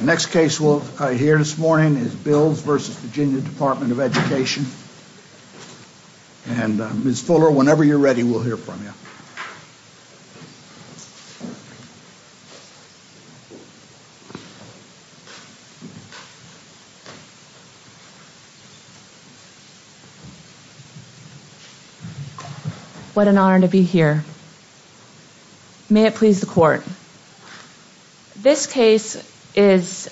The next case we'll hear this morning is Bills v. Virginia Department of Education. And Ms. Fuller, whenever you're ready, we'll hear from you. What an honor to be here. May it please the court. This case is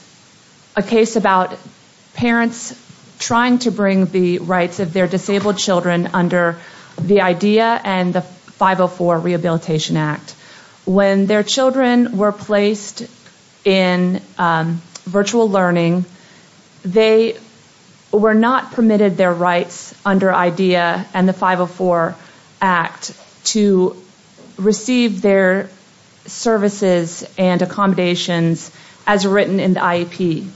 a case about parents trying to bring the rights of their disabled children under the IDEA and the 504 Rehabilitation Act. When their children were placed in virtual learning, they were not permitted their rights under IDEA and the 504 Act to receive their services and accommodations as written in the IEP.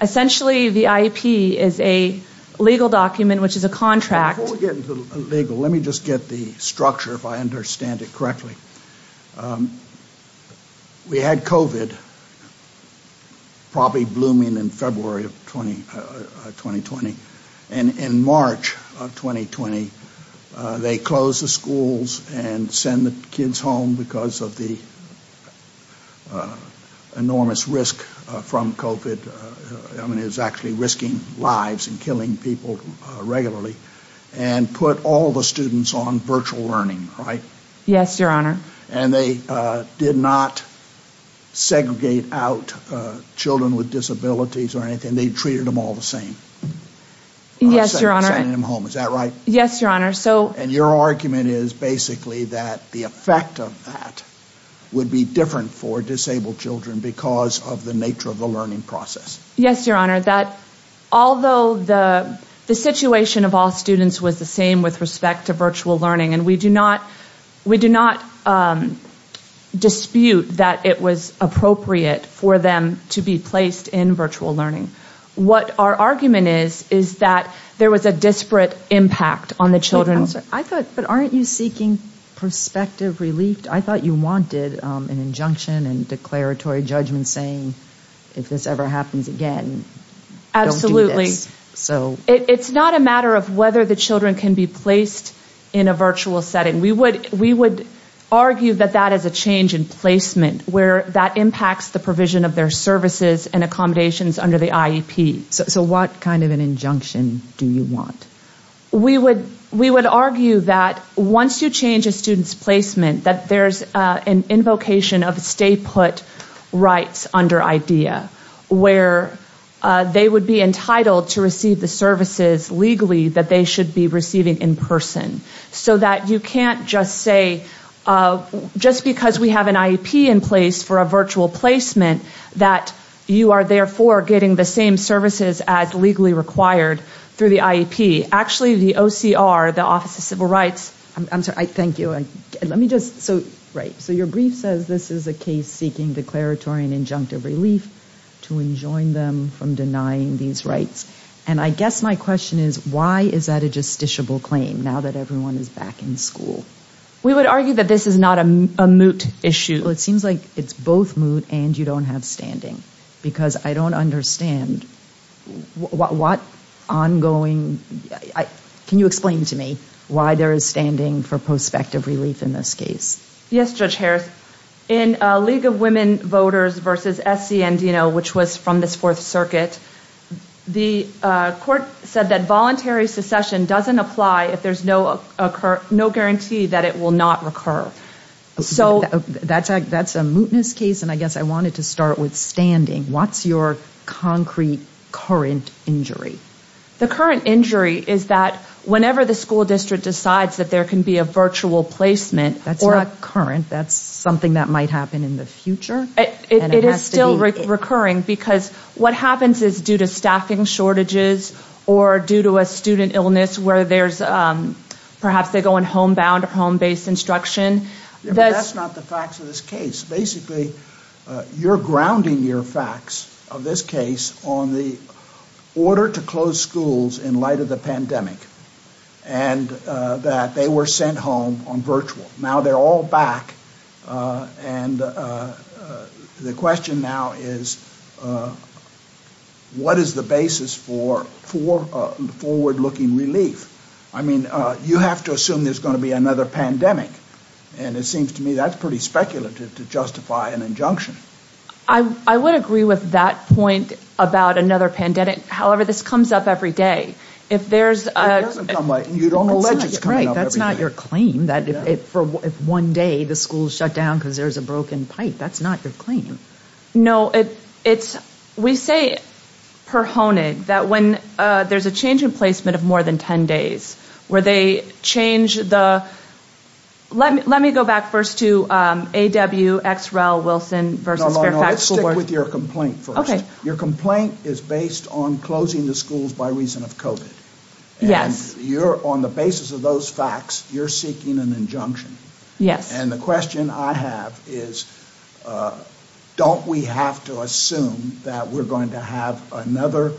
Essentially, the IEP is a legal document, which is a contract. Before we get into the legal, let me just get the structure, if I understand it correctly. We had COVID probably blooming in February of 2020. And in March of 2020, they closed the schools and sent the kids home because of the enormous risk from COVID. I mean, it was actually risking lives and killing people regularly and put all the students on virtual learning, right? Yes, Your Honor. And they did not segregate out children with disabilities or anything. They treated them all the same. Yes, Your Honor. Sending them home. Is that right? Yes, Your Honor. And your argument is basically that the effect of that would be different for disabled children because of the nature of the learning process. Yes, Your Honor. Although the situation of all students was the same with respect to virtual learning, and we do not dispute that it was appropriate for them to be placed in virtual learning, what our argument is is that there was a disparate impact on the children. But aren't you seeking perspective relief? I thought you wanted an injunction and declaratory judgment saying if this ever happens again, don't do this. Absolutely. It's not a matter of whether the children can be placed in a virtual setting. We would argue that that is a change in placement where that impacts the provision of their services and accommodations under the IEP. So what kind of an injunction do you want? We would argue that once you change a student's placement, that there's an invocation of stay put rights under IDEA where they would be entitled to receive the services legally that they should be receiving in person. So that you can't just say, just because we have an IEP in place for a virtual placement, that you are therefore getting the same services as legally required through the IEP. Actually, the OCR, the Office of Civil Rights. Your brief says this is a case seeking declaratory and injunctive relief to enjoin them from denying these rights. I guess my question is, why is that a justiciable claim now that everyone is back in school? We would argue that this is not a moot issue. It seems like it's both moot and you don't have standing because I don't understand what ongoing, can you explain to me why there is standing for prospective relief in this case? Yes, Judge Harris. In League of Women Voters v. S.C. Andino, which was from this Fourth Circuit, the court said that voluntary secession doesn't apply if there's no guarantee that it will not recur. That's a mootness case and I guess I wanted to start with standing. What's your concrete current injury? The current injury is that whenever the school district decides that there can be a virtual placement. That's not current. That's something that might happen in the future. It is still recurring because what happens is due to staffing shortages or due to a student illness where perhaps they go on home-bound or home-based instruction. That's not the facts of this case. Basically, you're grounding your facts of this case on the order to close schools in light of the pandemic and that they were sent home on virtual. Now they're all back and the question now is what is the basis for forward-looking relief? I mean, you have to assume there's going to be another pandemic and it seems to me that's pretty speculative to justify an injunction. I would agree with that point about another pandemic. However, this comes up every day. It doesn't come up every day. That's not your claim that if one day the schools shut down because there's a broken pipe. That's not your claim. No, we say per honig that when there's a change in placement of more than 10 days where they change the – let me go back first to AW, XREL, Wilson versus Fairfax. Let's stick with your complaint first. Your complaint is based on closing the schools by reason of COVID. Yes. On the basis of those facts, you're seeking an injunction. Yes. And the question I have is don't we have to assume that we're going to have another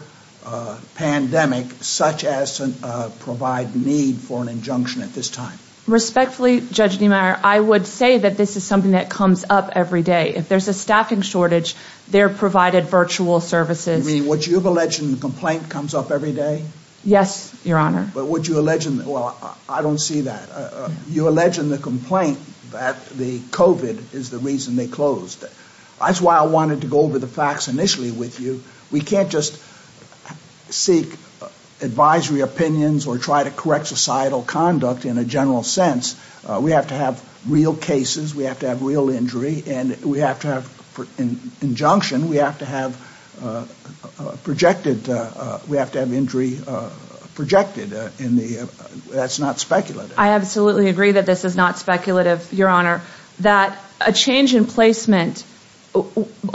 pandemic such as provide need for an injunction at this time? Respectfully, Judge Niemeyer, I would say that this is something that comes up every day. If there's a staffing shortage, they're provided virtual services. You mean what you've alleged in the complaint comes up every day? Yes, Your Honor. But what you allege in – well, I don't see that. You allege in the complaint that the COVID is the reason they closed. That's why I wanted to go over the facts initially with you. We can't just seek advisory opinions or try to correct societal conduct in a general sense. We have to have real cases. We have to have real injury. And we have to have – in injunction, we have to have projected – we have to have injury projected in the – that's not speculative. I absolutely agree that this is not speculative, Your Honor, that a change in placement –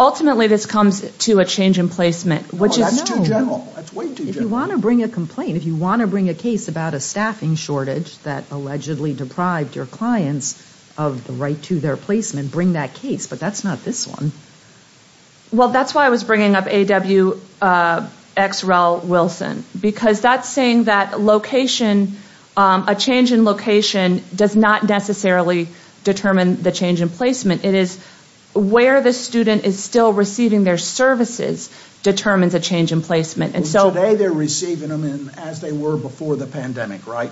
ultimately, this comes to a change in placement, which is – No, that's too general. That's way too general. If you want to bring a complaint, if you want to bring a case about a staffing shortage that allegedly deprived your clients of the right to their placement, bring that case. But that's not this one. Well, that's why I was bringing up A.W. X. Rel. Wilson, because that's saying that location – a change in location does not necessarily determine the change in placement. It is where the student is still receiving their services determines a change in placement. Today, they're receiving them as they were before the pandemic, right?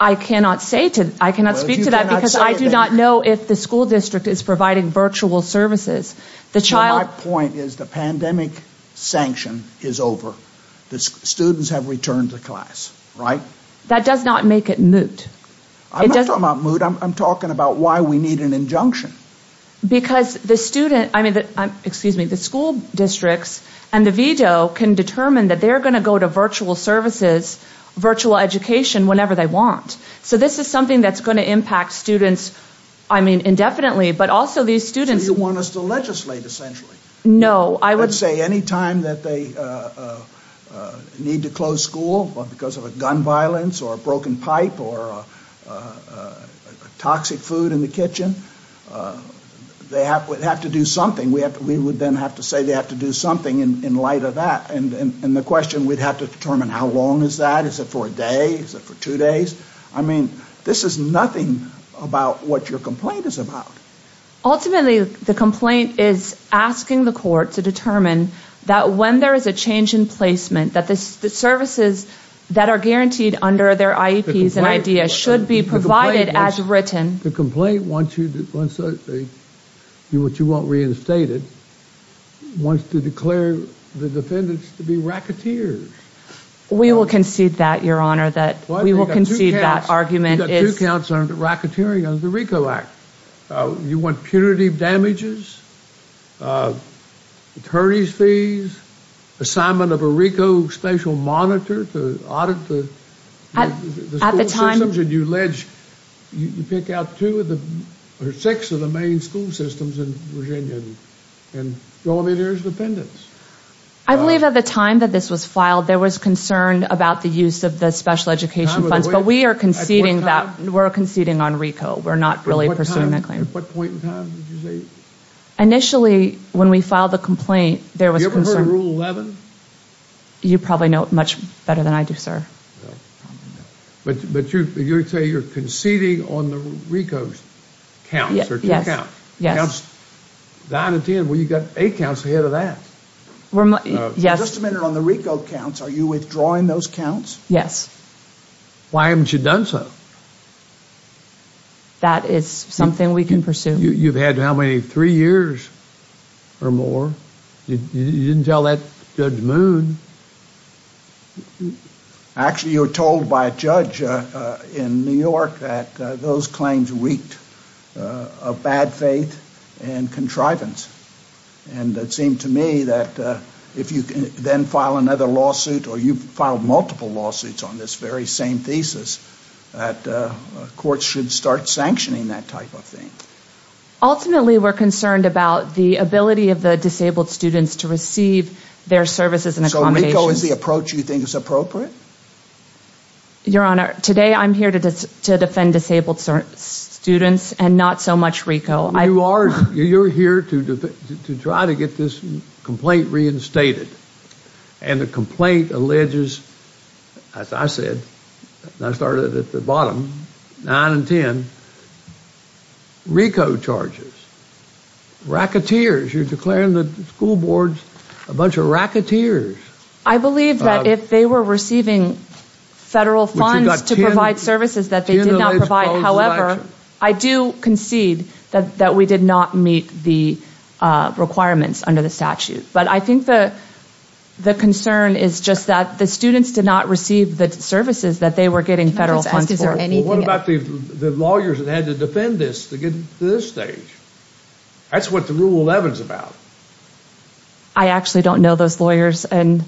I cannot say – I cannot speak to that because I do not know if the school district is providing virtual services. My point is the pandemic sanction is over. The students have returned to class, right? That does not make it moot. I'm not talking about moot. I'm talking about why we need an injunction. Because the student – excuse me – the school districts and the veto can determine that they're going to go to virtual services, virtual education whenever they want. So this is something that's going to impact students indefinitely, but also these students – So you want us to legislate essentially? No, I would – They would have to do something. We would then have to say they have to do something in light of that. And the question – we'd have to determine how long is that? Is it for a day? Is it for two days? I mean, this is nothing about what your complaint is about. Ultimately, the complaint is asking the court to determine that when there is a change in placement, that the services that are guaranteed under their IEPs and IDEAs should be provided as written. The complaint wants you to – which you won't reinstate it – wants to declare the defendants to be racketeers. We will concede that, Your Honor. We will concede that argument. You've got two counts on racketeering under the RICO Act. You want punitive damages, attorney's fees, assignment of a RICO spatial monitor to audit the school systems. You pick out two of the – or six of the main school systems in Virginia and throw them in there as defendants. I believe at the time that this was filed, there was concern about the use of the special education funds. But we are conceding that – we're conceding on RICO. We're not really pursuing that claim. At what point in time did you say? Initially, when we filed the complaint, there was concern – Have you ever heard of Rule 11? You probably know it much better than I do, sir. But you say you're conceding on the RICO's counts, or two counts. Yes. Counts 9 and 10. Well, you've got eight counts ahead of that. We're – yes. Just a minute. On the RICO counts, are you withdrawing those counts? Yes. Why haven't you done so? That is something we can pursue. You've had how many? Three years or more? You didn't tell that Judge Moon. Actually, you were told by a judge in New York that those claims reeked of bad faith and contrivance. And it seemed to me that if you then file another lawsuit, or you've filed multiple lawsuits on this very same thesis, that courts should start sanctioning that type of thing. Ultimately, we're concerned about the ability of the disabled students to receive their services and accommodations. So RICO is the approach you think is appropriate? Your Honor, today I'm here to defend disabled students and not so much RICO. You are – you're here to try to get this complaint reinstated. And the complaint alleges, as I said, and I started at the bottom, 9 and 10, RICO charges. Racketeers. You're declaring the school boards a bunch of racketeers. I believe that if they were receiving federal funds to provide services that they did not provide, however, I do concede that we did not meet the requirements under the statute. But I think the concern is just that the students did not receive the services that they were getting federal funds for. Well, what about the lawyers that had to defend this to get to this stage? That's what the Rule 11's about. I actually don't know those lawyers, and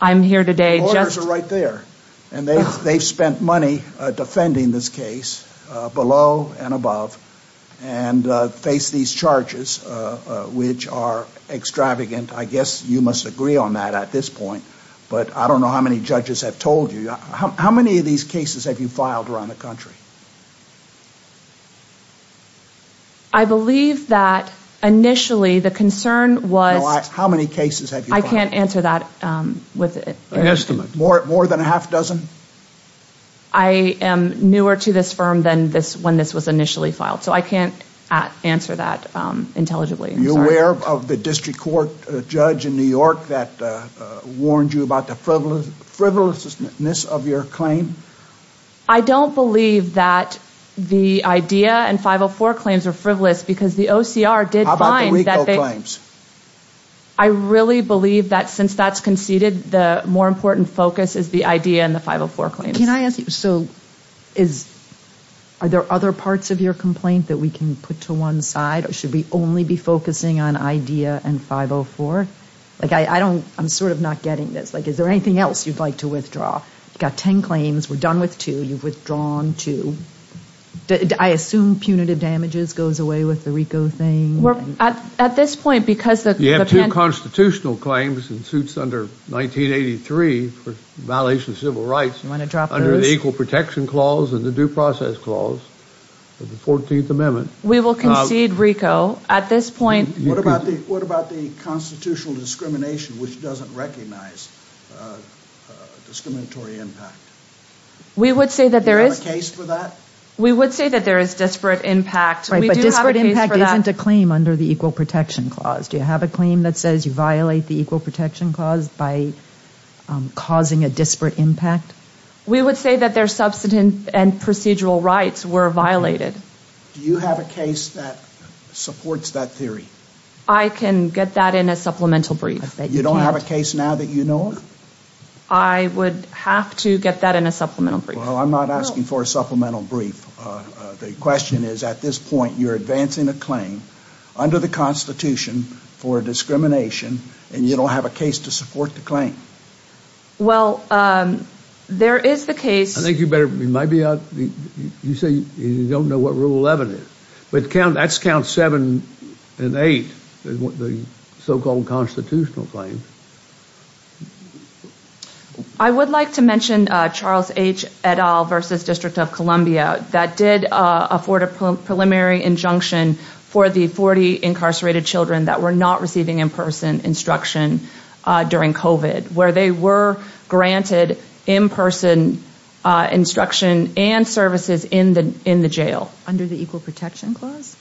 I'm here today just – The lawyers are right there. And they've spent money defending this case below and above and face these charges, which are extravagant. I guess you must agree on that at this point, but I don't know how many judges have told you. How many of these cases have you filed around the country? I believe that initially the concern was – How many cases have you filed? I can't answer that with – An estimate. More than a half dozen? I am newer to this firm than when this was initially filed, so I can't answer that intelligibly. Are you aware of the district court judge in New York that warned you about the frivolousness of your claim? I don't believe that the IDEA and 504 claims are frivolous because the OCR did find that they – How about the RICO claims? I really believe that since that's conceded, the more important focus is the IDEA and the 504 claims. Can I ask you, so is – are there other parts of your complaint that we can put to one side? Or should we only be focusing on IDEA and 504? Like, I don't – I'm sort of not getting this. Like, is there anything else you'd like to withdraw? You've got ten claims. We're done with two. You've withdrawn two. I assume punitive damages goes away with the RICO thing. Well, at this point, because the – You have two constitutional claims and suits under 1983 for violation of civil rights. You want to drop those? Under the Equal Protection Clause and the Due Process Clause of the 14th Amendment. We will concede RICO. At this point – What about the constitutional discrimination which doesn't recognize discriminatory impact? We would say that there is – Do you have a case for that? We would say that there is disparate impact. Right, but disparate impact isn't a claim under the Equal Protection Clause. Do you have a claim that says you violate the Equal Protection Clause by causing a disparate impact? We would say that their substantive and procedural rights were violated. Do you have a case that supports that theory? I can get that in a supplemental brief. You don't have a case now that you know of? I would have to get that in a supplemental brief. Well, I'm not asking for a supplemental brief. The question is, at this point, you're advancing a claim under the Constitution for discrimination, and you don't have a case to support the claim. Well, there is the case – I think you might be out – you say you don't know what Rule 11 is. But that's Count 7 and 8, the so-called constitutional claims. I would like to mention Charles H. et al. v. District of Columbia that did afford a preliminary injunction for the 40 incarcerated children that were not receiving in-person instruction during COVID, where they were granted in-person instruction and services in the jail. Under the Equal Protection Clause?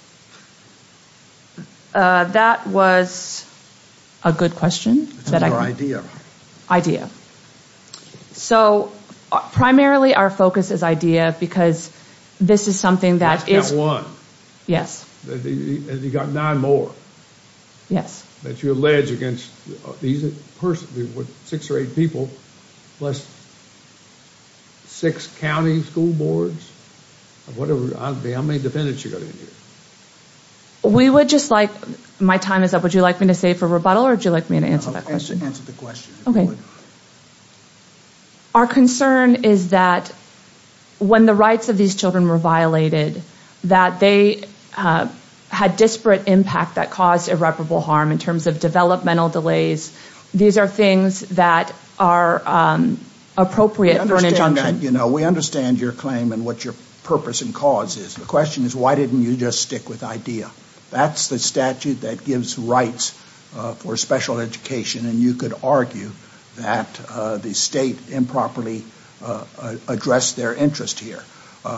That was a good question. It's an idea. So, primarily our focus is idea, because this is something that is – Count 1. Yes. And you've got nine more. Yes. That you allege against these persons, six or eight people, plus six county school boards, of whatever – how many defendants you got in here? We would just like – my time is up. Would you like me to stay for rebuttal, or would you like me to answer that question? Answer the question. Our concern is that when the rights of these children were violated, that they had disparate impact that caused irreparable harm in terms of developmental delays. These are things that are appropriate for an injunction. We understand your claim and what your purpose and cause is. The question is, why didn't you just stick with idea? That's the statute that gives rights for special education, and you could argue that the state improperly addressed their interest here.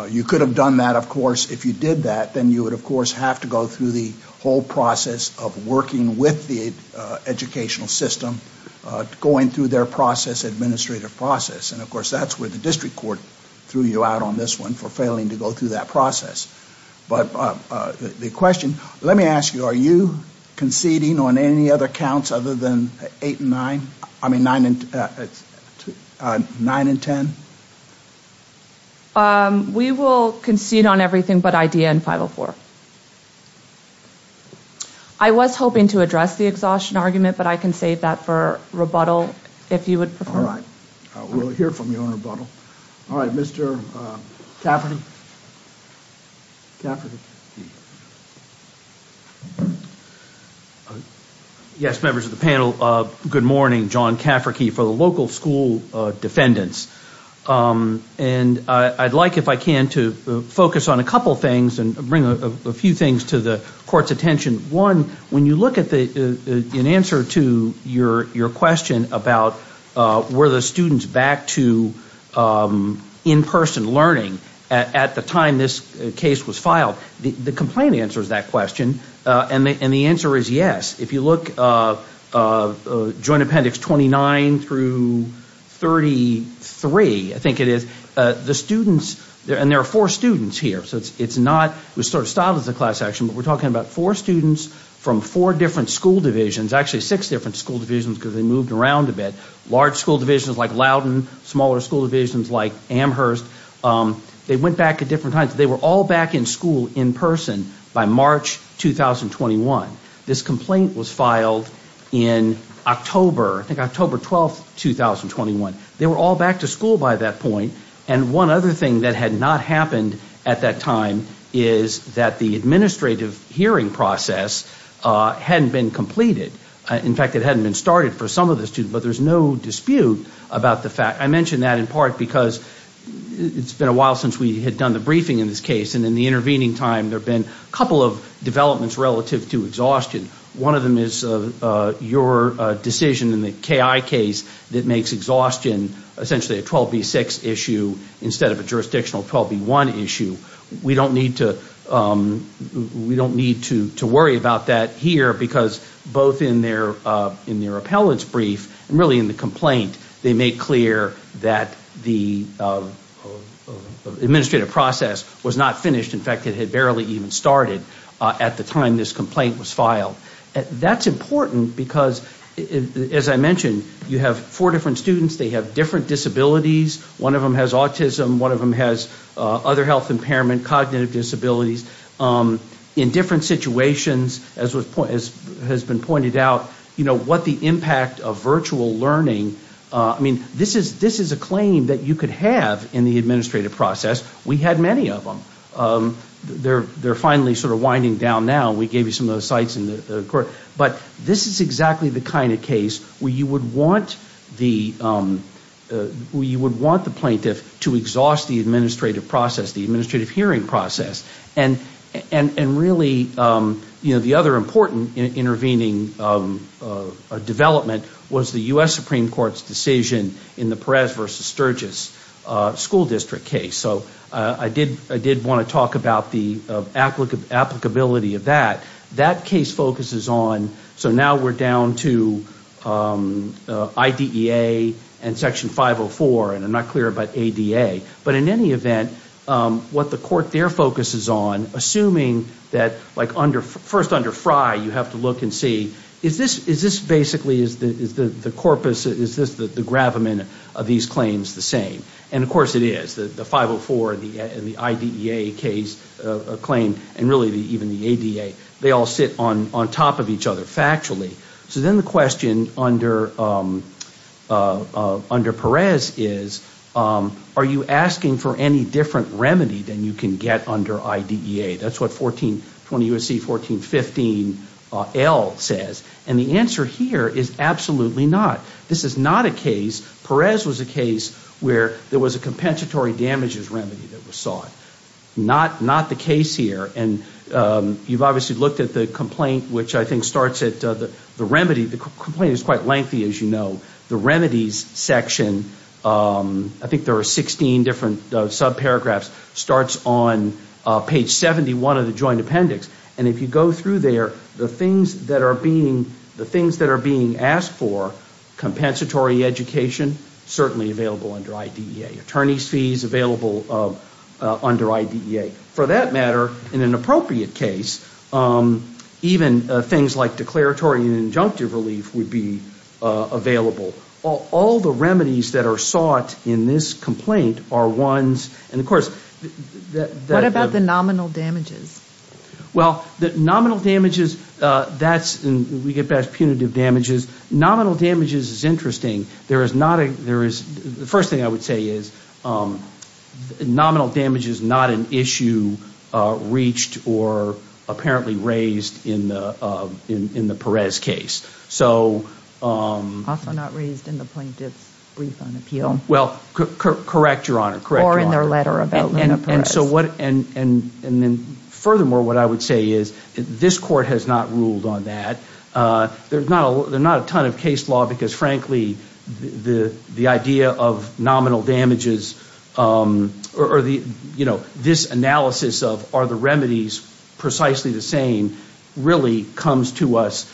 You could have done that, of course, if you did that. Then you would, of course, have to go through the whole process of working with the educational system, going through their process, administrative process. And, of course, that's where the district court threw you out on this one for failing to go through that process. But the question – let me ask you, are you conceding on any other counts other than eight and nine? I mean, nine and ten? We will concede on everything but idea and 504. I was hoping to address the exhaustion argument, but I can save that for rebuttal if you would prefer. All right. We'll hear from you on rebuttal. All right, Mr. Cafferty. Yes, members of the panel, good morning. John Cafferty for the local school defendants. And I'd like, if I can, to focus on a couple things and bring a few things to the court's attention. One, when you look at an answer to your question about were the students back to in-person learning at the time this case was filed, the complaint answers that question, and the answer is yes. If you look at Joint Appendix 29 through 33, I think it is, the students – and there are four students here. It was sort of styled as a class action, but we're talking about four students from four different school divisions, actually six different school divisions because they moved around a bit, large school divisions like Loudon, smaller school divisions like Amherst. They went back at different times. They were all back in school in person by March 2021. This complaint was filed in October, I think October 12, 2021. They were all back to school by that point. And one other thing that had not happened at that time is that the administrative hearing process hadn't been completed. In fact, it hadn't been started for some of the students, but there's no dispute about the fact – I mention that in part because it's been a while since we had done the briefing in this case, and in the intervening time there have been a couple of developments relative to exhaustion. One of them is your decision in the KI case that makes exhaustion essentially a 12B6 issue instead of a jurisdictional 12B1 issue. We don't need to worry about that here because both in their appellate's brief and really in the complaint, they make clear that the administrative process was not finished. In fact, it had barely even started at the time this complaint was filed. That's important because, as I mentioned, you have four different students. They have different disabilities. One of them has autism. One of them has other health impairment, cognitive disabilities. In different situations, as has been pointed out, what the impact of virtual learning – I mean, this is a claim that you could have in the administrative process. We had many of them. They're finally sort of winding down now. We gave you some of the sites in the court. But this is exactly the kind of case where you would want the plaintiff to exhaust the administrative process, the administrative hearing process. And really, the other important intervening development was the U.S. Supreme Court's decision in the Perez v. Sturgis school district case. So I did want to talk about the applicability of that. That case focuses on – so now we're down to IDEA and Section 504, and I'm not clear about ADA. But in any event, what the court there focuses on, assuming that, like, first under Fry, you have to look and see, is this basically, is the corpus, is the gravamen of these claims the same? And of course it is. The 504 and the IDEA claim, and really even the ADA, they all sit on top of each other factually. So then the question under Perez is, are you asking for any different remedy than you can get under IDEA? That's what 1420 U.S.C. 1415L says. And the answer here is absolutely not. This is not a case – Perez was a case where there was a compensatory damages remedy that was sought. Not the case here. And you've obviously looked at the complaint, which I think starts at the remedy. The complaint is quite lengthy, as you know. The remedies section, I think there are 16 different subparagraphs, starts on page 71 of the joint appendix. And if you go through there, the things that are being asked for, compensatory education, certainly available under IDEA. Attorney's fees available under IDEA. For that matter, in an appropriate case, even things like declaratory and injunctive relief would be available. All the remedies that are sought in this complaint are ones – and of course – What about the nominal damages? Well, the nominal damages, that's – and we get back to punitive damages. Nominal damages is interesting. There is not a – there is – the first thing I would say is nominal damage is not an issue reached or apparently raised in the Perez case. So – Also not raised in the plaintiff's brief on appeal. Well, correct, Your Honor. Or in their letter about Luna Perez. And so what – and then furthermore, what I would say is this Court has not ruled on that. There is not a ton of case law because frankly, the idea of nominal damages or the – you know, this analysis of are the remedies precisely the same, really comes to us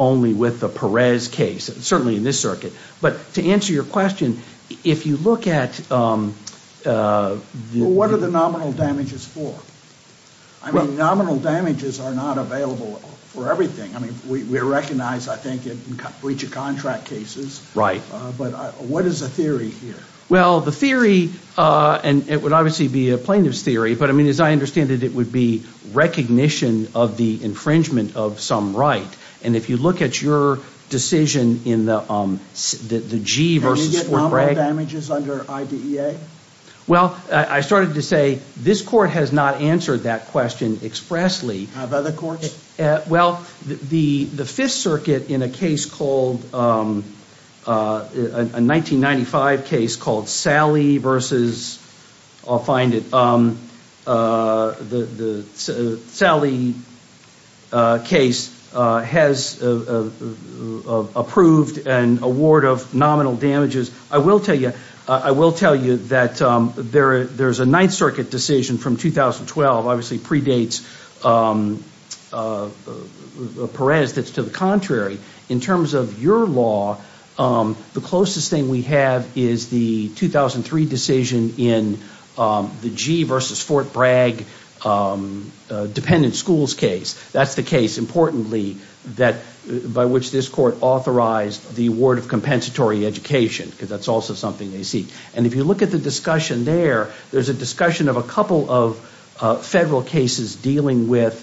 only with the Perez case, certainly in this circuit. But to answer your question, if you look at – What are the nominal damages for? I mean, nominal damages are not available for everything. I mean, we recognize, I think, in breach of contract cases. Right. But what is the theory here? Well, the theory – and it would obviously be a plaintiff's theory. But I mean, as I understand it, it would be recognition of the infringement of some right. And if you look at your decision in the G versus – Can you get nominal damages under IDEA? Well, I started to say this Court has not answered that question expressly. Have other courts? Well, the Fifth Circuit in a case called – a 1995 case called Sally versus – I'll find it. The Sally case has approved an award of nominal damages. I will tell you that there's a Ninth Circuit decision from 2012, obviously predates Perez that's to the contrary. In terms of your law, the closest thing we have is the 2003 decision in the G versus Fort Bragg dependent schools case. That's the case, importantly, by which this Court authorized the award of compensatory education. Because that's also something they seek. And if you look at the discussion there, there's a discussion of a couple of federal cases dealing with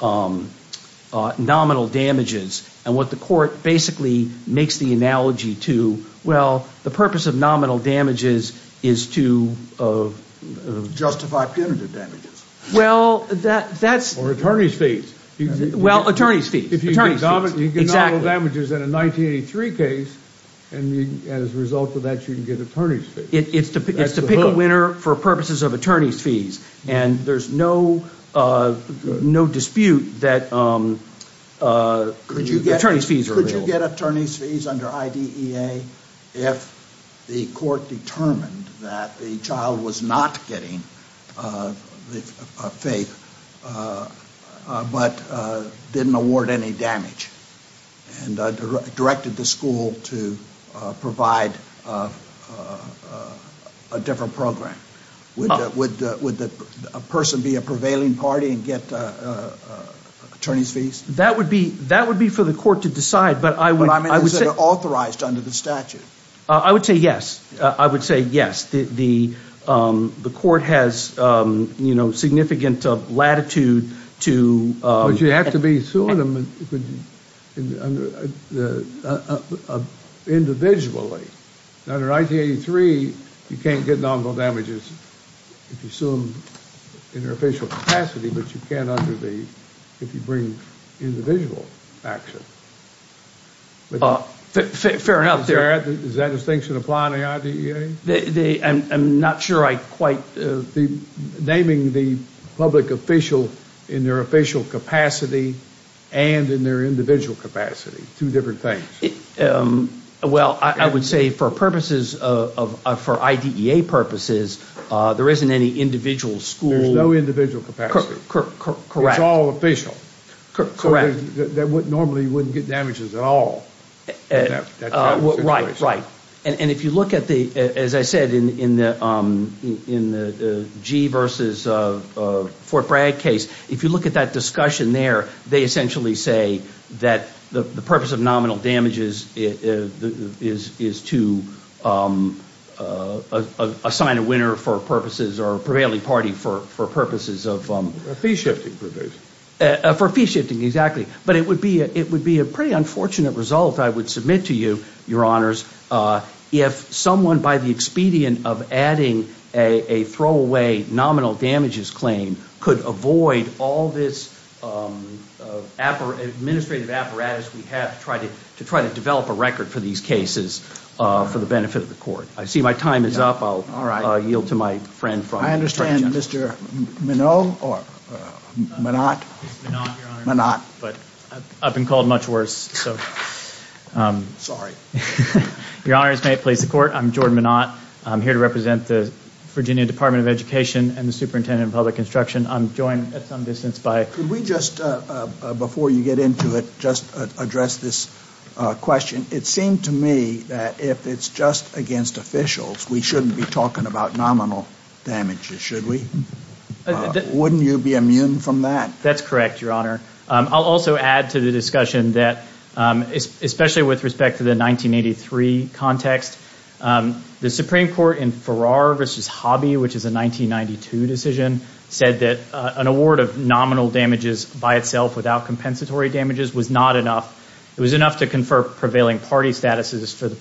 nominal damages. And what the Court basically makes the analogy to, well, the purpose of nominal damages is to – Justify punitive damages. Well, that's – Or attorney's fees. Well, attorney's fees. If you get nominal damages in a 1983 case, and as a result of that you can get attorney's fees. It's to pick a winner for purposes of attorney's fees. And there's no dispute that attorney's fees are – Could you get attorney's fees under IDEA if the Court determined that the child was not getting faith but didn't award any damage and directed the school to provide a different program? Would a person be a prevailing party and get attorney's fees? That would be for the Court to decide, but I would say – But, I mean, is it authorized under the statute? I would say yes. I would say yes. The Court has significant latitude to – But you have to be suing them individually. Under 1983, you can't get nominal damages if you sue them in their official capacity, but you can under the – if you bring individual action. Fair enough. Does that distinction apply under IDEA? I'm not sure I quite – Naming the public official in their official capacity and in their individual capacity, two different things. Well, I would say for purposes of – for IDEA purposes, there isn't any individual school – There's no individual capacity. Correct. It's all official. Correct. So they normally wouldn't get damages at all in that type of situation. Right, right. And if you look at the – as I said in the Gee versus Fort Bragg case, if you look at that discussion there, they essentially say that the purpose of nominal damages is to assign a winner for purposes – or a prevailing party for purposes of – A fee-shifting provision. For fee-shifting, exactly. But it would be a pretty unfortunate result, I would submit to you, Your Honors, if someone by the expedient of adding a throwaway nominal damages claim could avoid all this administrative apparatus we have to try to develop a record for these cases for the benefit of the court. I see my time is up. All right. I'll yield to my friend from – I understand Mr. Minow or Minot. It's Minot, Your Honors. Minot. But I've been called much worse, so. Sorry. Your Honors, may it please the Court, I'm Jordan Minot. I'm here to represent the Virginia Department of Education and the Superintendent of Public Instruction. I'm joined at some distance by – Could we just, before you get into it, just address this question? It seemed to me that if it's just against officials, we shouldn't be talking about nominal damages, should we? Wouldn't you be immune from that? That's correct, Your Honor. I'll also add to the discussion that, especially with respect to the 1983 context, the Supreme Court in Farrar v. Hobby, which is a 1992 decision, said that an award of nominal damages by itself without compensatory damages was not enough. It was enough to confer prevailing party status for the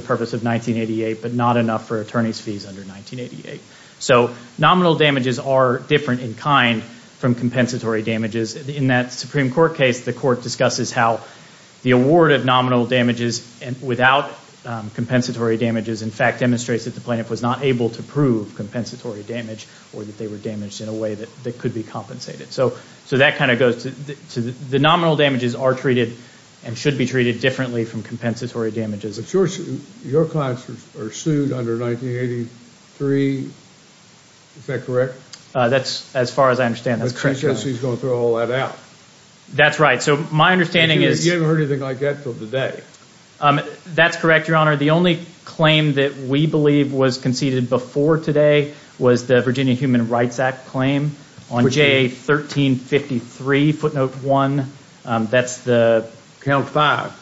purpose of 1988, but not enough for attorney's fees under 1988. So nominal damages are different in kind from compensatory damages. In that Supreme Court case, the Court discusses how the award of nominal damages without compensatory damages, in fact, demonstrates that the plaintiff was not able to prove compensatory damage or that they were damaged in a way that could be compensated. So that kind of goes to the nominal damages are treated and should be treated differently from compensatory damages. But your clients are sued under 1983. Is that correct? As far as I understand, that's correct, Your Honor. So he's going to throw all that out. That's right. So my understanding is... You haven't heard anything like that until today. That's correct, Your Honor. The only claim that we believe was conceded before today was the Virginia Human Rights Act claim on JA1353, footnote 1. That's the... Count five.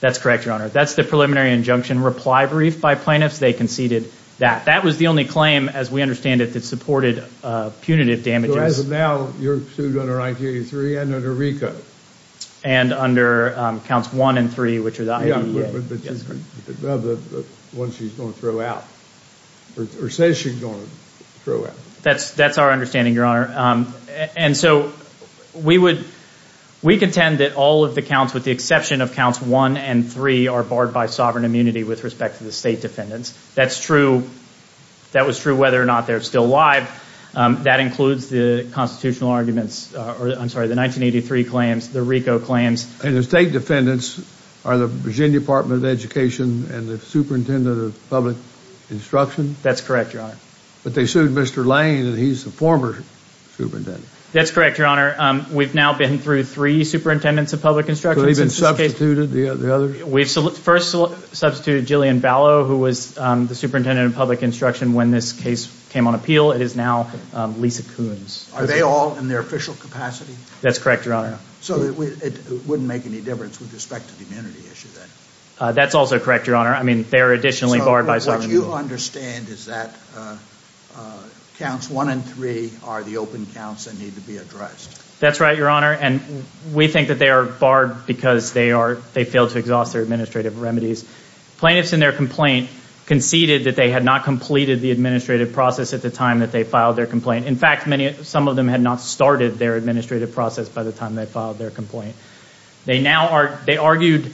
That's correct, Your Honor. That's the preliminary injunction reply brief by plaintiffs. They conceded that. That was the only claim, as we understand it, that supported punitive damages. So as of now, you're sued under 1983 and under RICO. And under counts one and three, which are the IEA. Yeah, but the one she's going to throw out. Or says she's going to throw out. That's our understanding, Your Honor. And so we would... We contend that all of the counts, with the exception of counts one and three, are barred by sovereign immunity with respect to the state defendants. That's true. That was true whether or not they're still alive. That includes the constitutional arguments. I'm sorry, the 1983 claims, the RICO claims. And the state defendants are the Virginia Department of Education and the superintendent of public instruction? That's correct, Your Honor. But they sued Mr. Lane, and he's the former superintendent. That's correct, Your Honor. We've now been through three superintendents of public instruction. So they've been substituted, the others? We first substituted Jillian Vallow, who was the superintendent of public instruction when this case came on appeal. It is now Lisa Coons. Are they all in their official capacity? That's correct, Your Honor. So it wouldn't make any difference with respect to the immunity issue then? That's also correct, Your Honor. I mean, they're additionally barred by sovereign immunity. What you understand is that counts one and three are the open counts that need to be addressed. That's right, Your Honor, and we think that they are barred because they failed to exhaust their administrative remedies. Plaintiffs in their complaint conceded that they had not completed the administrative process at the time that they filed their complaint. In fact, some of them had not started their administrative process by the time they filed their complaint. They argued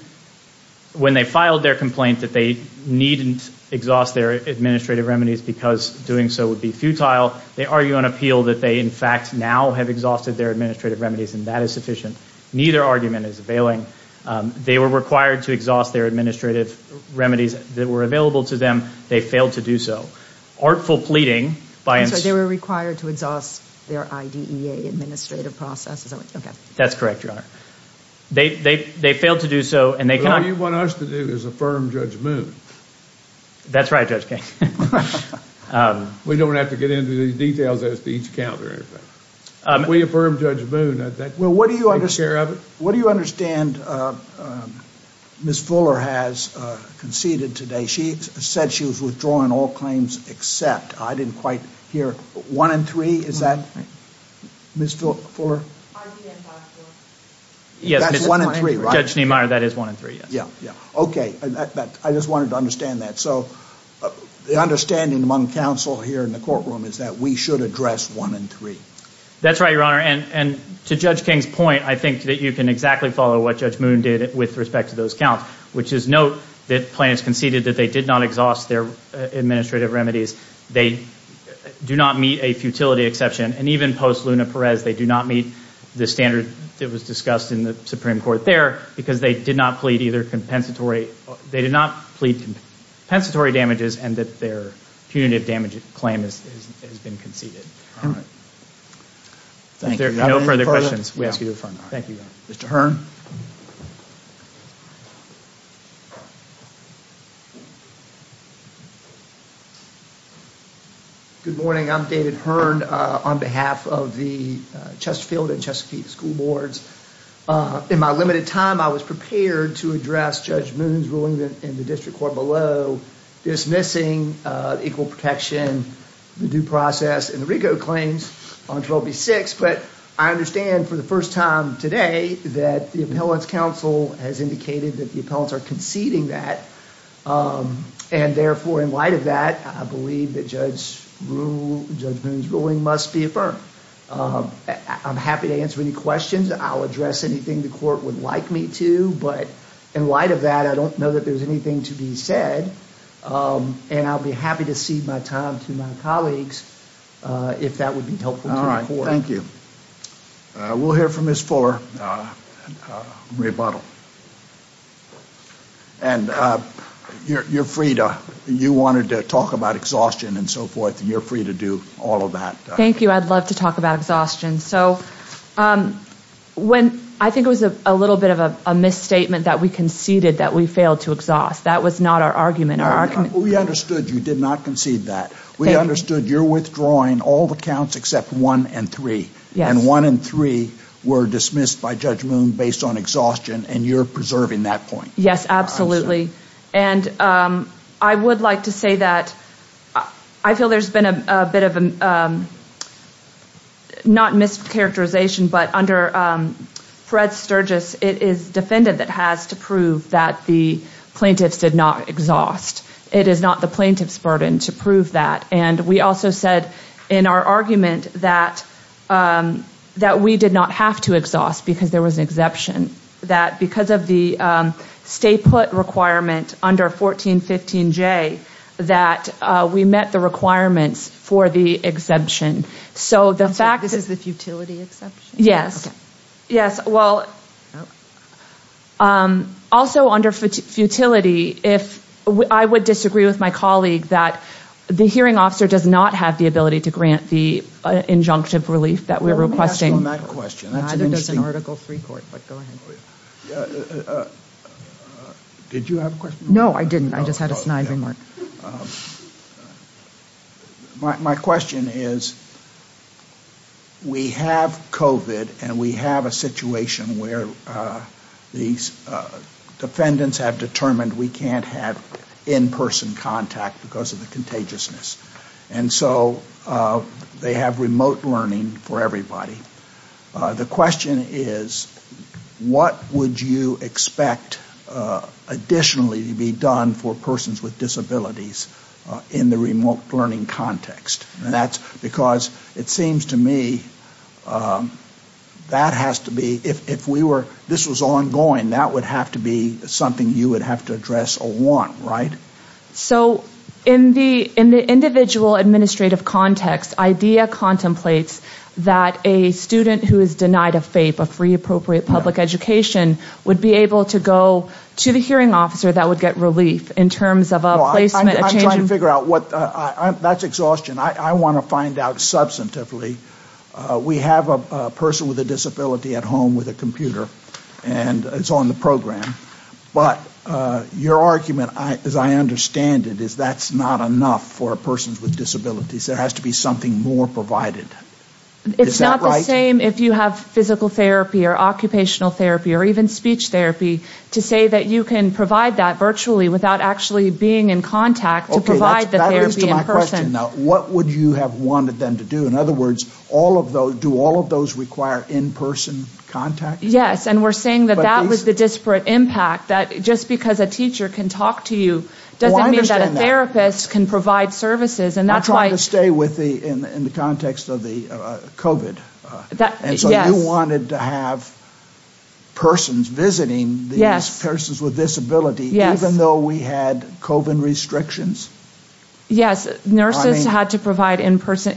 when they filed their complaint that they needn't exhaust their administrative remedies because doing so would be futile. They argue on appeal that they, in fact, now have exhausted their administrative remedies, and that is sufficient. Neither argument is availing. They were required to exhaust their administrative remedies that were available to them. They failed to do so. Artful pleading by... I'm sorry, they were required to exhaust their IDEA administrative processes. That's correct, Your Honor. They failed to do so, and they cannot... What you want us to do is affirm Judge Moon. That's right, Judge King. We don't have to get into these details as to each count or anything. If we affirm Judge Moon, that takes care of it. Well, what do you understand Ms. Fuller has conceded today? She said she was withdrawing all claims except. I didn't quite hear one and three. Is that Ms. Fuller? That's one and three, right? Judge Niemeyer, that is one and three, yes. Okay, I just wanted to understand that. So the understanding among counsel here in the courtroom is that we should address one and three. That's right, Your Honor. And to Judge King's point, I think that you can exactly follow what Judge Moon did with respect to those counts, which is note that plaintiffs conceded that they did not exhaust their administrative remedies. They do not meet a futility exception. And even post-Luna-Perez, they do not meet the standard that was discussed in the Supreme Court there because they did not plead either compensatory damages and that their punitive damage claim has been conceded. All right. If there are no further questions, we ask you to affirm. Thank you, Your Honor. Mr. Hearn. Good morning. I'm David Hearn on behalf of the Chesterfield and Chesapeake School Boards. In my limited time, I was prepared to address Judge Moon's ruling in the district court below, dismissing equal protection, the due process, and the RICO claims on 12B6. But I understand for the first time today that the appellant's counsel has indicated that the appellants are conceding that. And therefore, in light of that, I believe that Judge Moon's ruling must be affirmed. I'm happy to answer any questions. I'll address anything the court would like me to. But in light of that, I don't know that there's anything to be said. And I'll be happy to cede my time to my colleagues if that would be helpful to the court. Thank you. We'll hear from Ms. Fuller, Marie Buttle. And you're free to, you wanted to talk about exhaustion and so forth, and you're free to do all of that. Thank you. I'd love to talk about exhaustion. So when, I think it was a little bit of a misstatement that we conceded that we failed to exhaust. That was not our argument. We understood you did not concede that. We understood you're withdrawing all the counts except one and three. And one and three were dismissed by Judge Moon based on exhaustion, and you're preserving that point. Yes, absolutely. And I would like to say that I feel there's been a bit of a, not mischaracterization, but under Fred Sturgis, it is defendant that has to prove that the plaintiffs did not exhaust. It is not the plaintiff's burden to prove that. And we also said in our argument that we did not have to exhaust because there was an exception, that because of the stay put requirement under 1415J that we met the requirements for the exception. So the fact that- This is the futility exception? Yes. Okay. Also under futility, I would disagree with my colleague that the hearing officer does not have the ability to grant the injunctive relief that we're requesting. Let me ask you on that question. I think that's an Article III court, but go ahead. Did you have a question? No, I didn't. I just had a snide remark. My question is, we have COVID and we have a situation where these defendants have determined we can't have in-person contact because of the contagiousness. And so they have remote learning for everybody. The question is, what would you expect additionally to be done for persons with disabilities in the remote learning context? Because it seems to me that has to be- If this was ongoing, that would have to be something you would have to address or want, right? So in the individual administrative context, IDEA contemplates that a student who is denied a FAPE, a free appropriate public education, would be able to go to the hearing officer that would get relief in terms of a placement- I'm trying to figure out what- That's exhaustion. I want to find out substantively. We have a person with a disability at home with a computer and it's on the program. But your argument, as I understand it, is that's not enough for persons with disabilities. There has to be something more provided. Is that right? It's not the same if you have physical therapy or occupational therapy or even speech therapy to say that you can provide that virtually without actually being in contact to provide the therapy in person. Okay, that leads to my question now. What would you have wanted them to do? In other words, do all of those require in-person contact? Yes, and we're saying that that was the disparate impact, that just because a teacher can talk to you doesn't mean that a therapist can provide services. I'm trying to stay within the context of the COVID. And so you wanted to have persons visiting these persons with disability even though we had COVID restrictions? Yes, nurses had to provide in-person.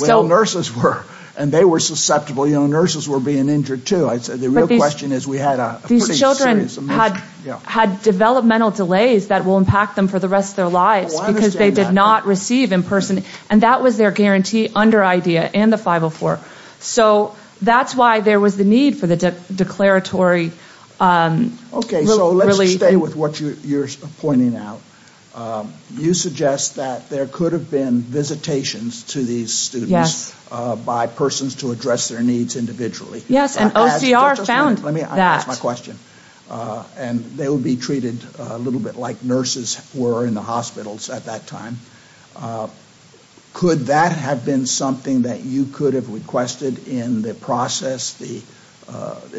Well, nurses were, and they were susceptible. Nurses were being injured too. The real question is we had a pretty serious emergency. These children had developmental delays that will impact them for the rest of their lives because they did not receive in-person. And that was their guarantee under IDEA and the 504. So that's why there was the need for the declaratory relief. Okay, so let's stay with what you're pointing out. You suggest that there could have been visitations to these students by persons to address their needs individually. Yes, and OCR found that. Let me ask my question. And they would be treated a little bit like nurses were in the hospitals at that time. Could that have been something that you could have requested in the process, the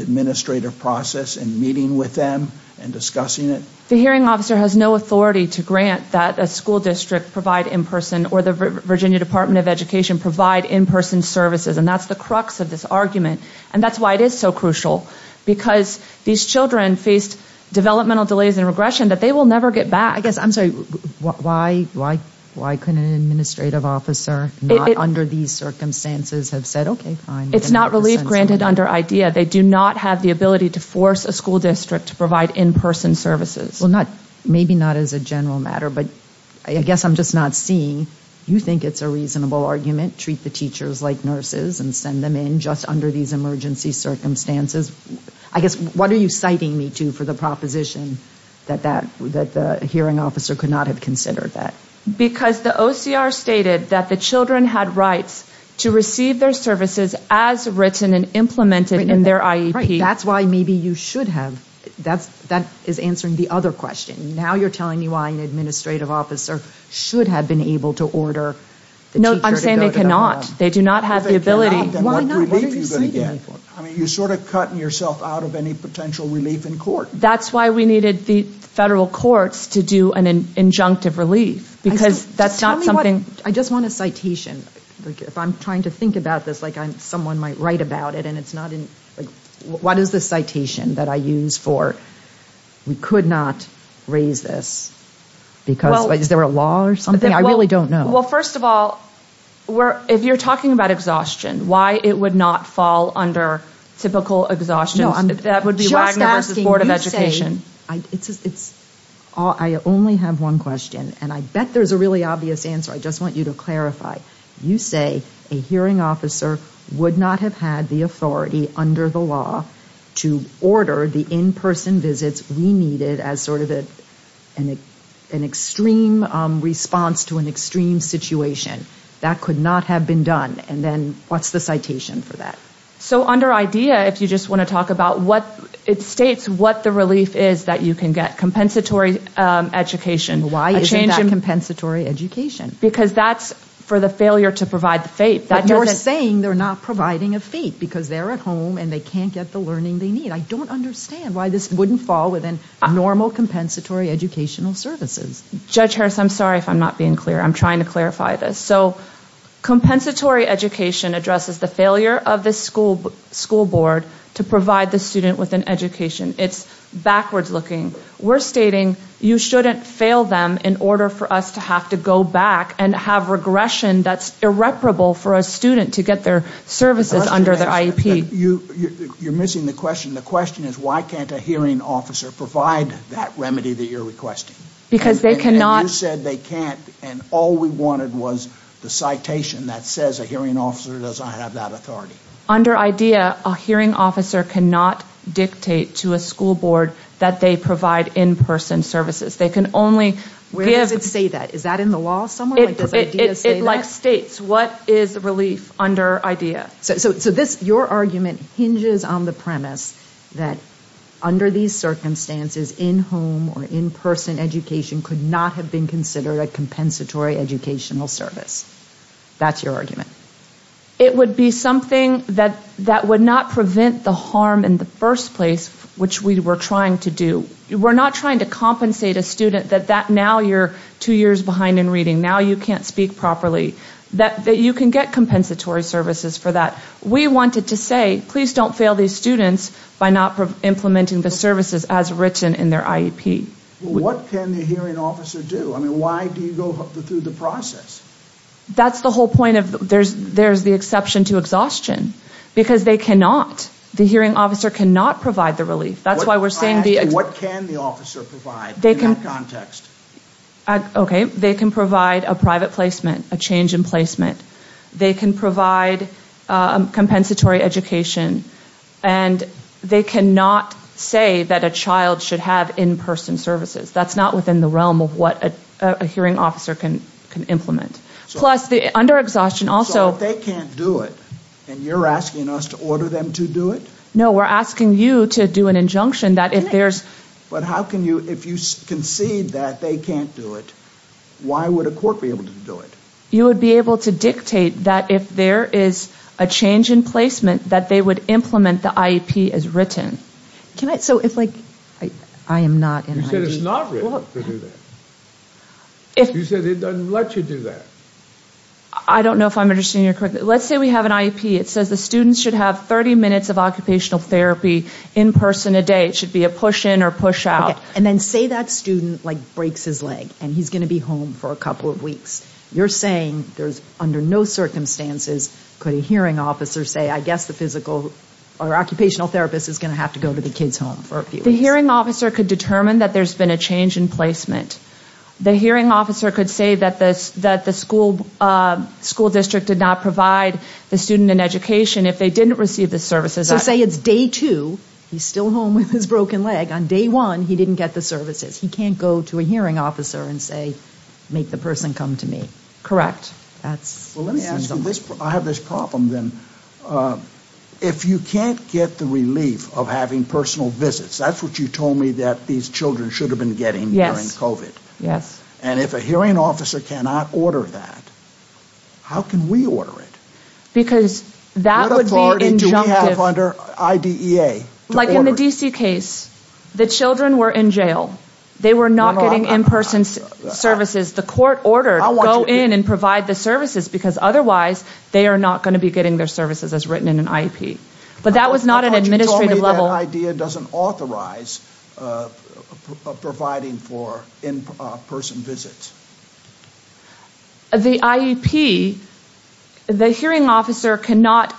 administrative process, in meeting with them and discussing it? The hearing officer has no authority to grant that a school district provide in-person or the Virginia Department of Education provide in-person services. And that's the crux of this argument. And that's why it is so crucial. Because these children faced developmental delays and regression that they will never get back. I guess, I'm sorry, why couldn't an administrative officer, not under these circumstances, have said, okay, fine. It's not relief granted under IDEA. They do not have the ability to force a school district to provide in-person services. Well, maybe not as a general matter, but I guess I'm just not seeing. You think it's a reasonable argument, treat the teachers like nurses and send them in just under these emergency circumstances. I guess, what are you citing me to for the proposition that the hearing officer could not have considered that? Because the OCR stated that the children had rights to receive their services as written and implemented in their IEP. That's why maybe you should have. That is answering the other question. Now you're telling me why an administrative officer should have been able to order the teacher to go to that one. No, I'm saying they cannot. They do not have the ability. If they cannot, then what relief are you going to get? I mean, you're sort of cutting yourself out of any potential relief in court. That's why we needed the federal courts to do an injunctive relief. Because that's not something. I just want a citation. If I'm trying to think about this like someone might write about it. What is the citation that I use for we could not raise this? Is there a law or something? I really don't know. Well, first of all, if you're talking about exhaustion, why it would not fall under typical exhaustion. Just asking. I only have one question, and I bet there's a really obvious answer. I just want you to clarify. You say a hearing officer would not have had the authority under the law to order the in-person visits we needed as sort of an extreme response to an extreme situation. That could not have been done. And then what's the citation for that? So under IDEA, if you just want to talk about what it states, what the relief is that you can get. Compensatory education. Why isn't that compensatory education? Because that's for the failure to provide the FAPE. But you're saying they're not providing a FAPE because they're at home and they can't get the learning they need. I don't understand why this wouldn't fall within normal compensatory educational services. Judge Harris, I'm sorry if I'm not being clear. I'm trying to clarify this. So compensatory education addresses the failure of the school board to provide the student with an education. It's backwards looking. We're stating you shouldn't fail them in order for us to have to go back and have regression that's irreparable for a student to get their services under their IEP. You're missing the question. The question is why can't a hearing officer provide that remedy that you're requesting? Because they cannot. And you said they can't. And all we wanted was the citation that says a hearing officer doesn't have that authority. Under IDEA, a hearing officer cannot dictate to a school board that they provide in-person services. They can only give... Where does it say that? Is that in the law somewhere? It like states what is relief under IDEA. So your argument hinges on the premise that under these circumstances, in-home or in-person education could not have been considered a compensatory educational service. That's your argument. It would be something that would not prevent the harm in the first place which we were trying to do. We're not trying to compensate a student that now you're two years behind in reading. Now you can't speak properly. That you can get compensatory services for that. We wanted to say please don't fail these students by not implementing the services as written in their IEP. What can the hearing officer do? I mean why do you go through the process? That's the whole point of... There's the exception to exhaustion because they cannot... The hearing officer cannot provide the relief. That's why we're saying the... What can the officer provide in that context? Okay. They can provide a private placement, a change in placement. They can provide compensatory education. And they cannot say that a child should have in-person services. That's not within the realm of what a hearing officer can implement. Plus under exhaustion also... So if they can't do it and you're asking us to order them to do it? No, we're asking you to do an injunction that if there's... But how can you... If you concede that they can't do it, why would a court be able to do it? You would be able to dictate that if there is a change in placement that they would implement the IEP as written. Can I... So it's like... I am not... You said it's not written to do that. You said it doesn't let you do that. I don't know if I'm understanding your question. Let's say we have an IEP. It says the students should have 30 minutes of occupational therapy in-person a day. It should be a push-in or push-out. And then say that student, like, breaks his leg and he's going to be home for a couple of weeks. You're saying there's under no circumstances could a hearing officer say, I guess the physical or occupational therapist is going to have to go to the kid's home for a few weeks. The hearing officer could determine that there's been a change in placement. The hearing officer could say that the school district did not provide the student an education if they didn't receive the services. So say it's day two, he's still home with his broken leg. On day one, he didn't get the services. He can't go to a hearing officer and say, make the person come to me. Correct. That's... Well, let me ask you this. I have this problem then. If you can't get the relief of having personal visits, that's what you told me that these children should have been getting during COVID. And if a hearing officer cannot order that, how can we order it? Because that would be injunctive. What authority do we have under IDEA? Like in the D.C. case, the children were in jail. They were not getting in-person services. The court ordered, go in and provide the services because otherwise they are not going to be getting their services as written in an IEP. But that was not an administrative level... How about you told me that IDEA doesn't authorize providing for in-person visits? The IEP, the hearing officer cannot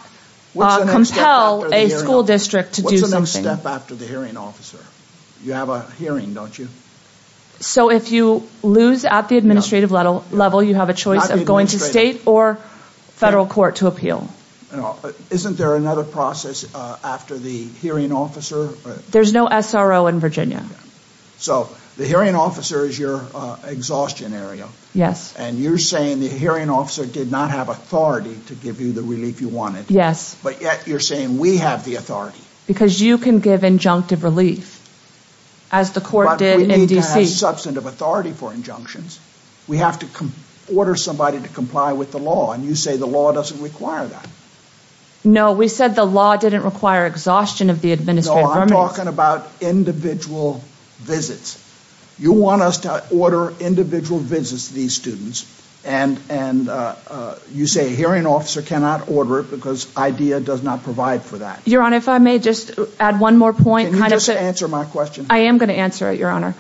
compel a school district to do something. What's the next step after the hearing officer? You have a hearing, don't you? So if you lose at the administrative level, you have a choice of going to state or federal court to appeal. Isn't there another process after the hearing officer? There's no SRO in Virginia. So the hearing officer is your exhaustion area. Yes. And you're saying the hearing officer did not have authority to give you the relief you wanted. Yes. But yet you're saying we have the authority. Because you can give injunctive relief as the court did in D.C. But we need to have substantive authority for injunctions. We have to order somebody to comply with the law and you say the law doesn't require that. No, we said the law didn't require exhaustion of the administrative... No, I'm talking about individual visits. You want us to order individual visits to these students and you say a hearing officer cannot order it because IDEA does not provide for that. Your Honor, if I may just add one more point. Can you just answer my question? I am going to answer it, Your Honor.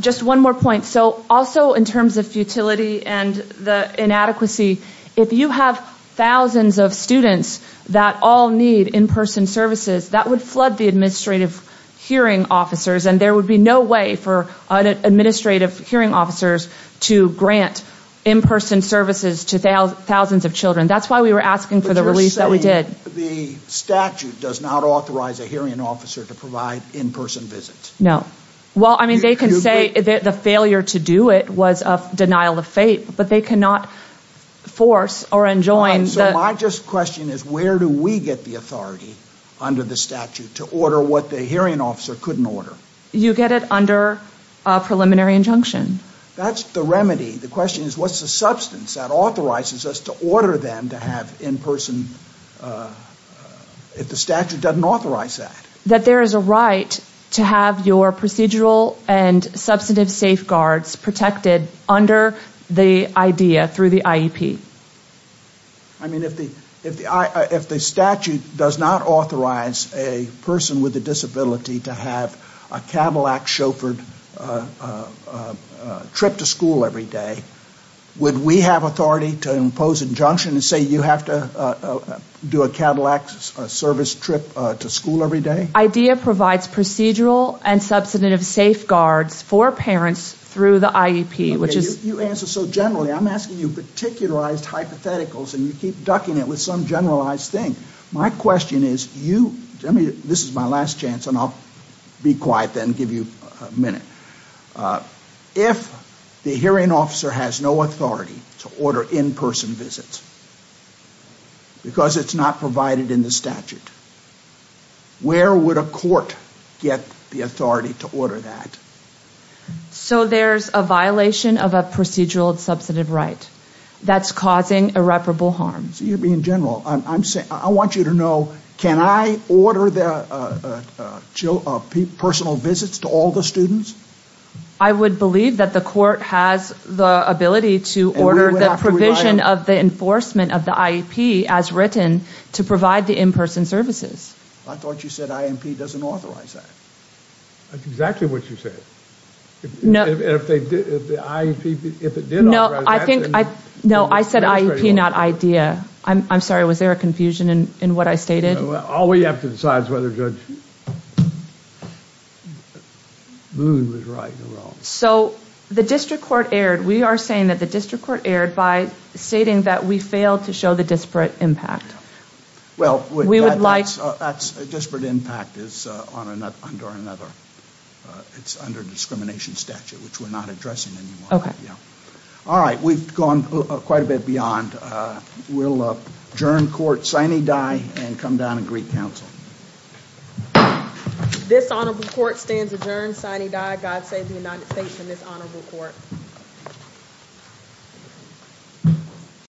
Just one more point. So also in terms of futility and the inadequacy, if you have thousands of students that all need in-person services, that would flood the administrative hearing officers and there would be no way for administrative hearing officers to grant in-person services to thousands of children. That's why we were asking for the relief that we did. The statute does not authorize a hearing officer to provide in-person visits. No. Well, I mean, they can say the failure to do it was a denial of faith, but they cannot force or enjoin... So my question is where do we get the authority under the statute to order what the hearing officer couldn't order? You get it under a preliminary injunction. That's the remedy. The question is what's the substance that authorizes us to order them to have in-person if the statute doesn't authorize that? That there is a right to have your procedural and substantive safeguards protected under the IDEA through the IEP. I mean, if the statute does not authorize a person with a disability to have a Cadillac chauffeured trip to school every day, would we have authority to impose injunction and say you have to do a Cadillac service trip to school every day? IDEA provides procedural and substantive safeguards for parents through the IEP, which is... You answer so generally. I'm asking you particularized hypotheticals, and you keep ducking it with some generalized thing. My question is you... I mean, this is my last chance, and I'll be quiet then and give you a minute. If the hearing officer has no authority to order in-person visits because it's not provided in the statute, where would a court get the authority to order that? So there's a violation of a procedural and substantive right that's causing irreparable harm. So you're being general. I want you to know, can I order personal visits to all the students? I would believe that the court has the ability to order the provision of the enforcement of the IEP as written to provide the in-person services. I thought you said IEP doesn't authorize that. That's exactly what you said. If the IEP, if it did authorize that... No, I said IEP, not IDEA. I'm sorry. Was there a confusion in what I stated? All we have to decide is whether Judge Boone was right or wrong. So the district court erred. We are saying that the district court erred by stating that we failed to show the disparate impact. Well, that disparate impact is under discrimination statute, which we're not addressing anymore. All right, we've gone quite a bit beyond. We'll adjourn court sine die and come down and greet counsel. This honorable court stands adjourned sine die. God save the United States and this honorable court.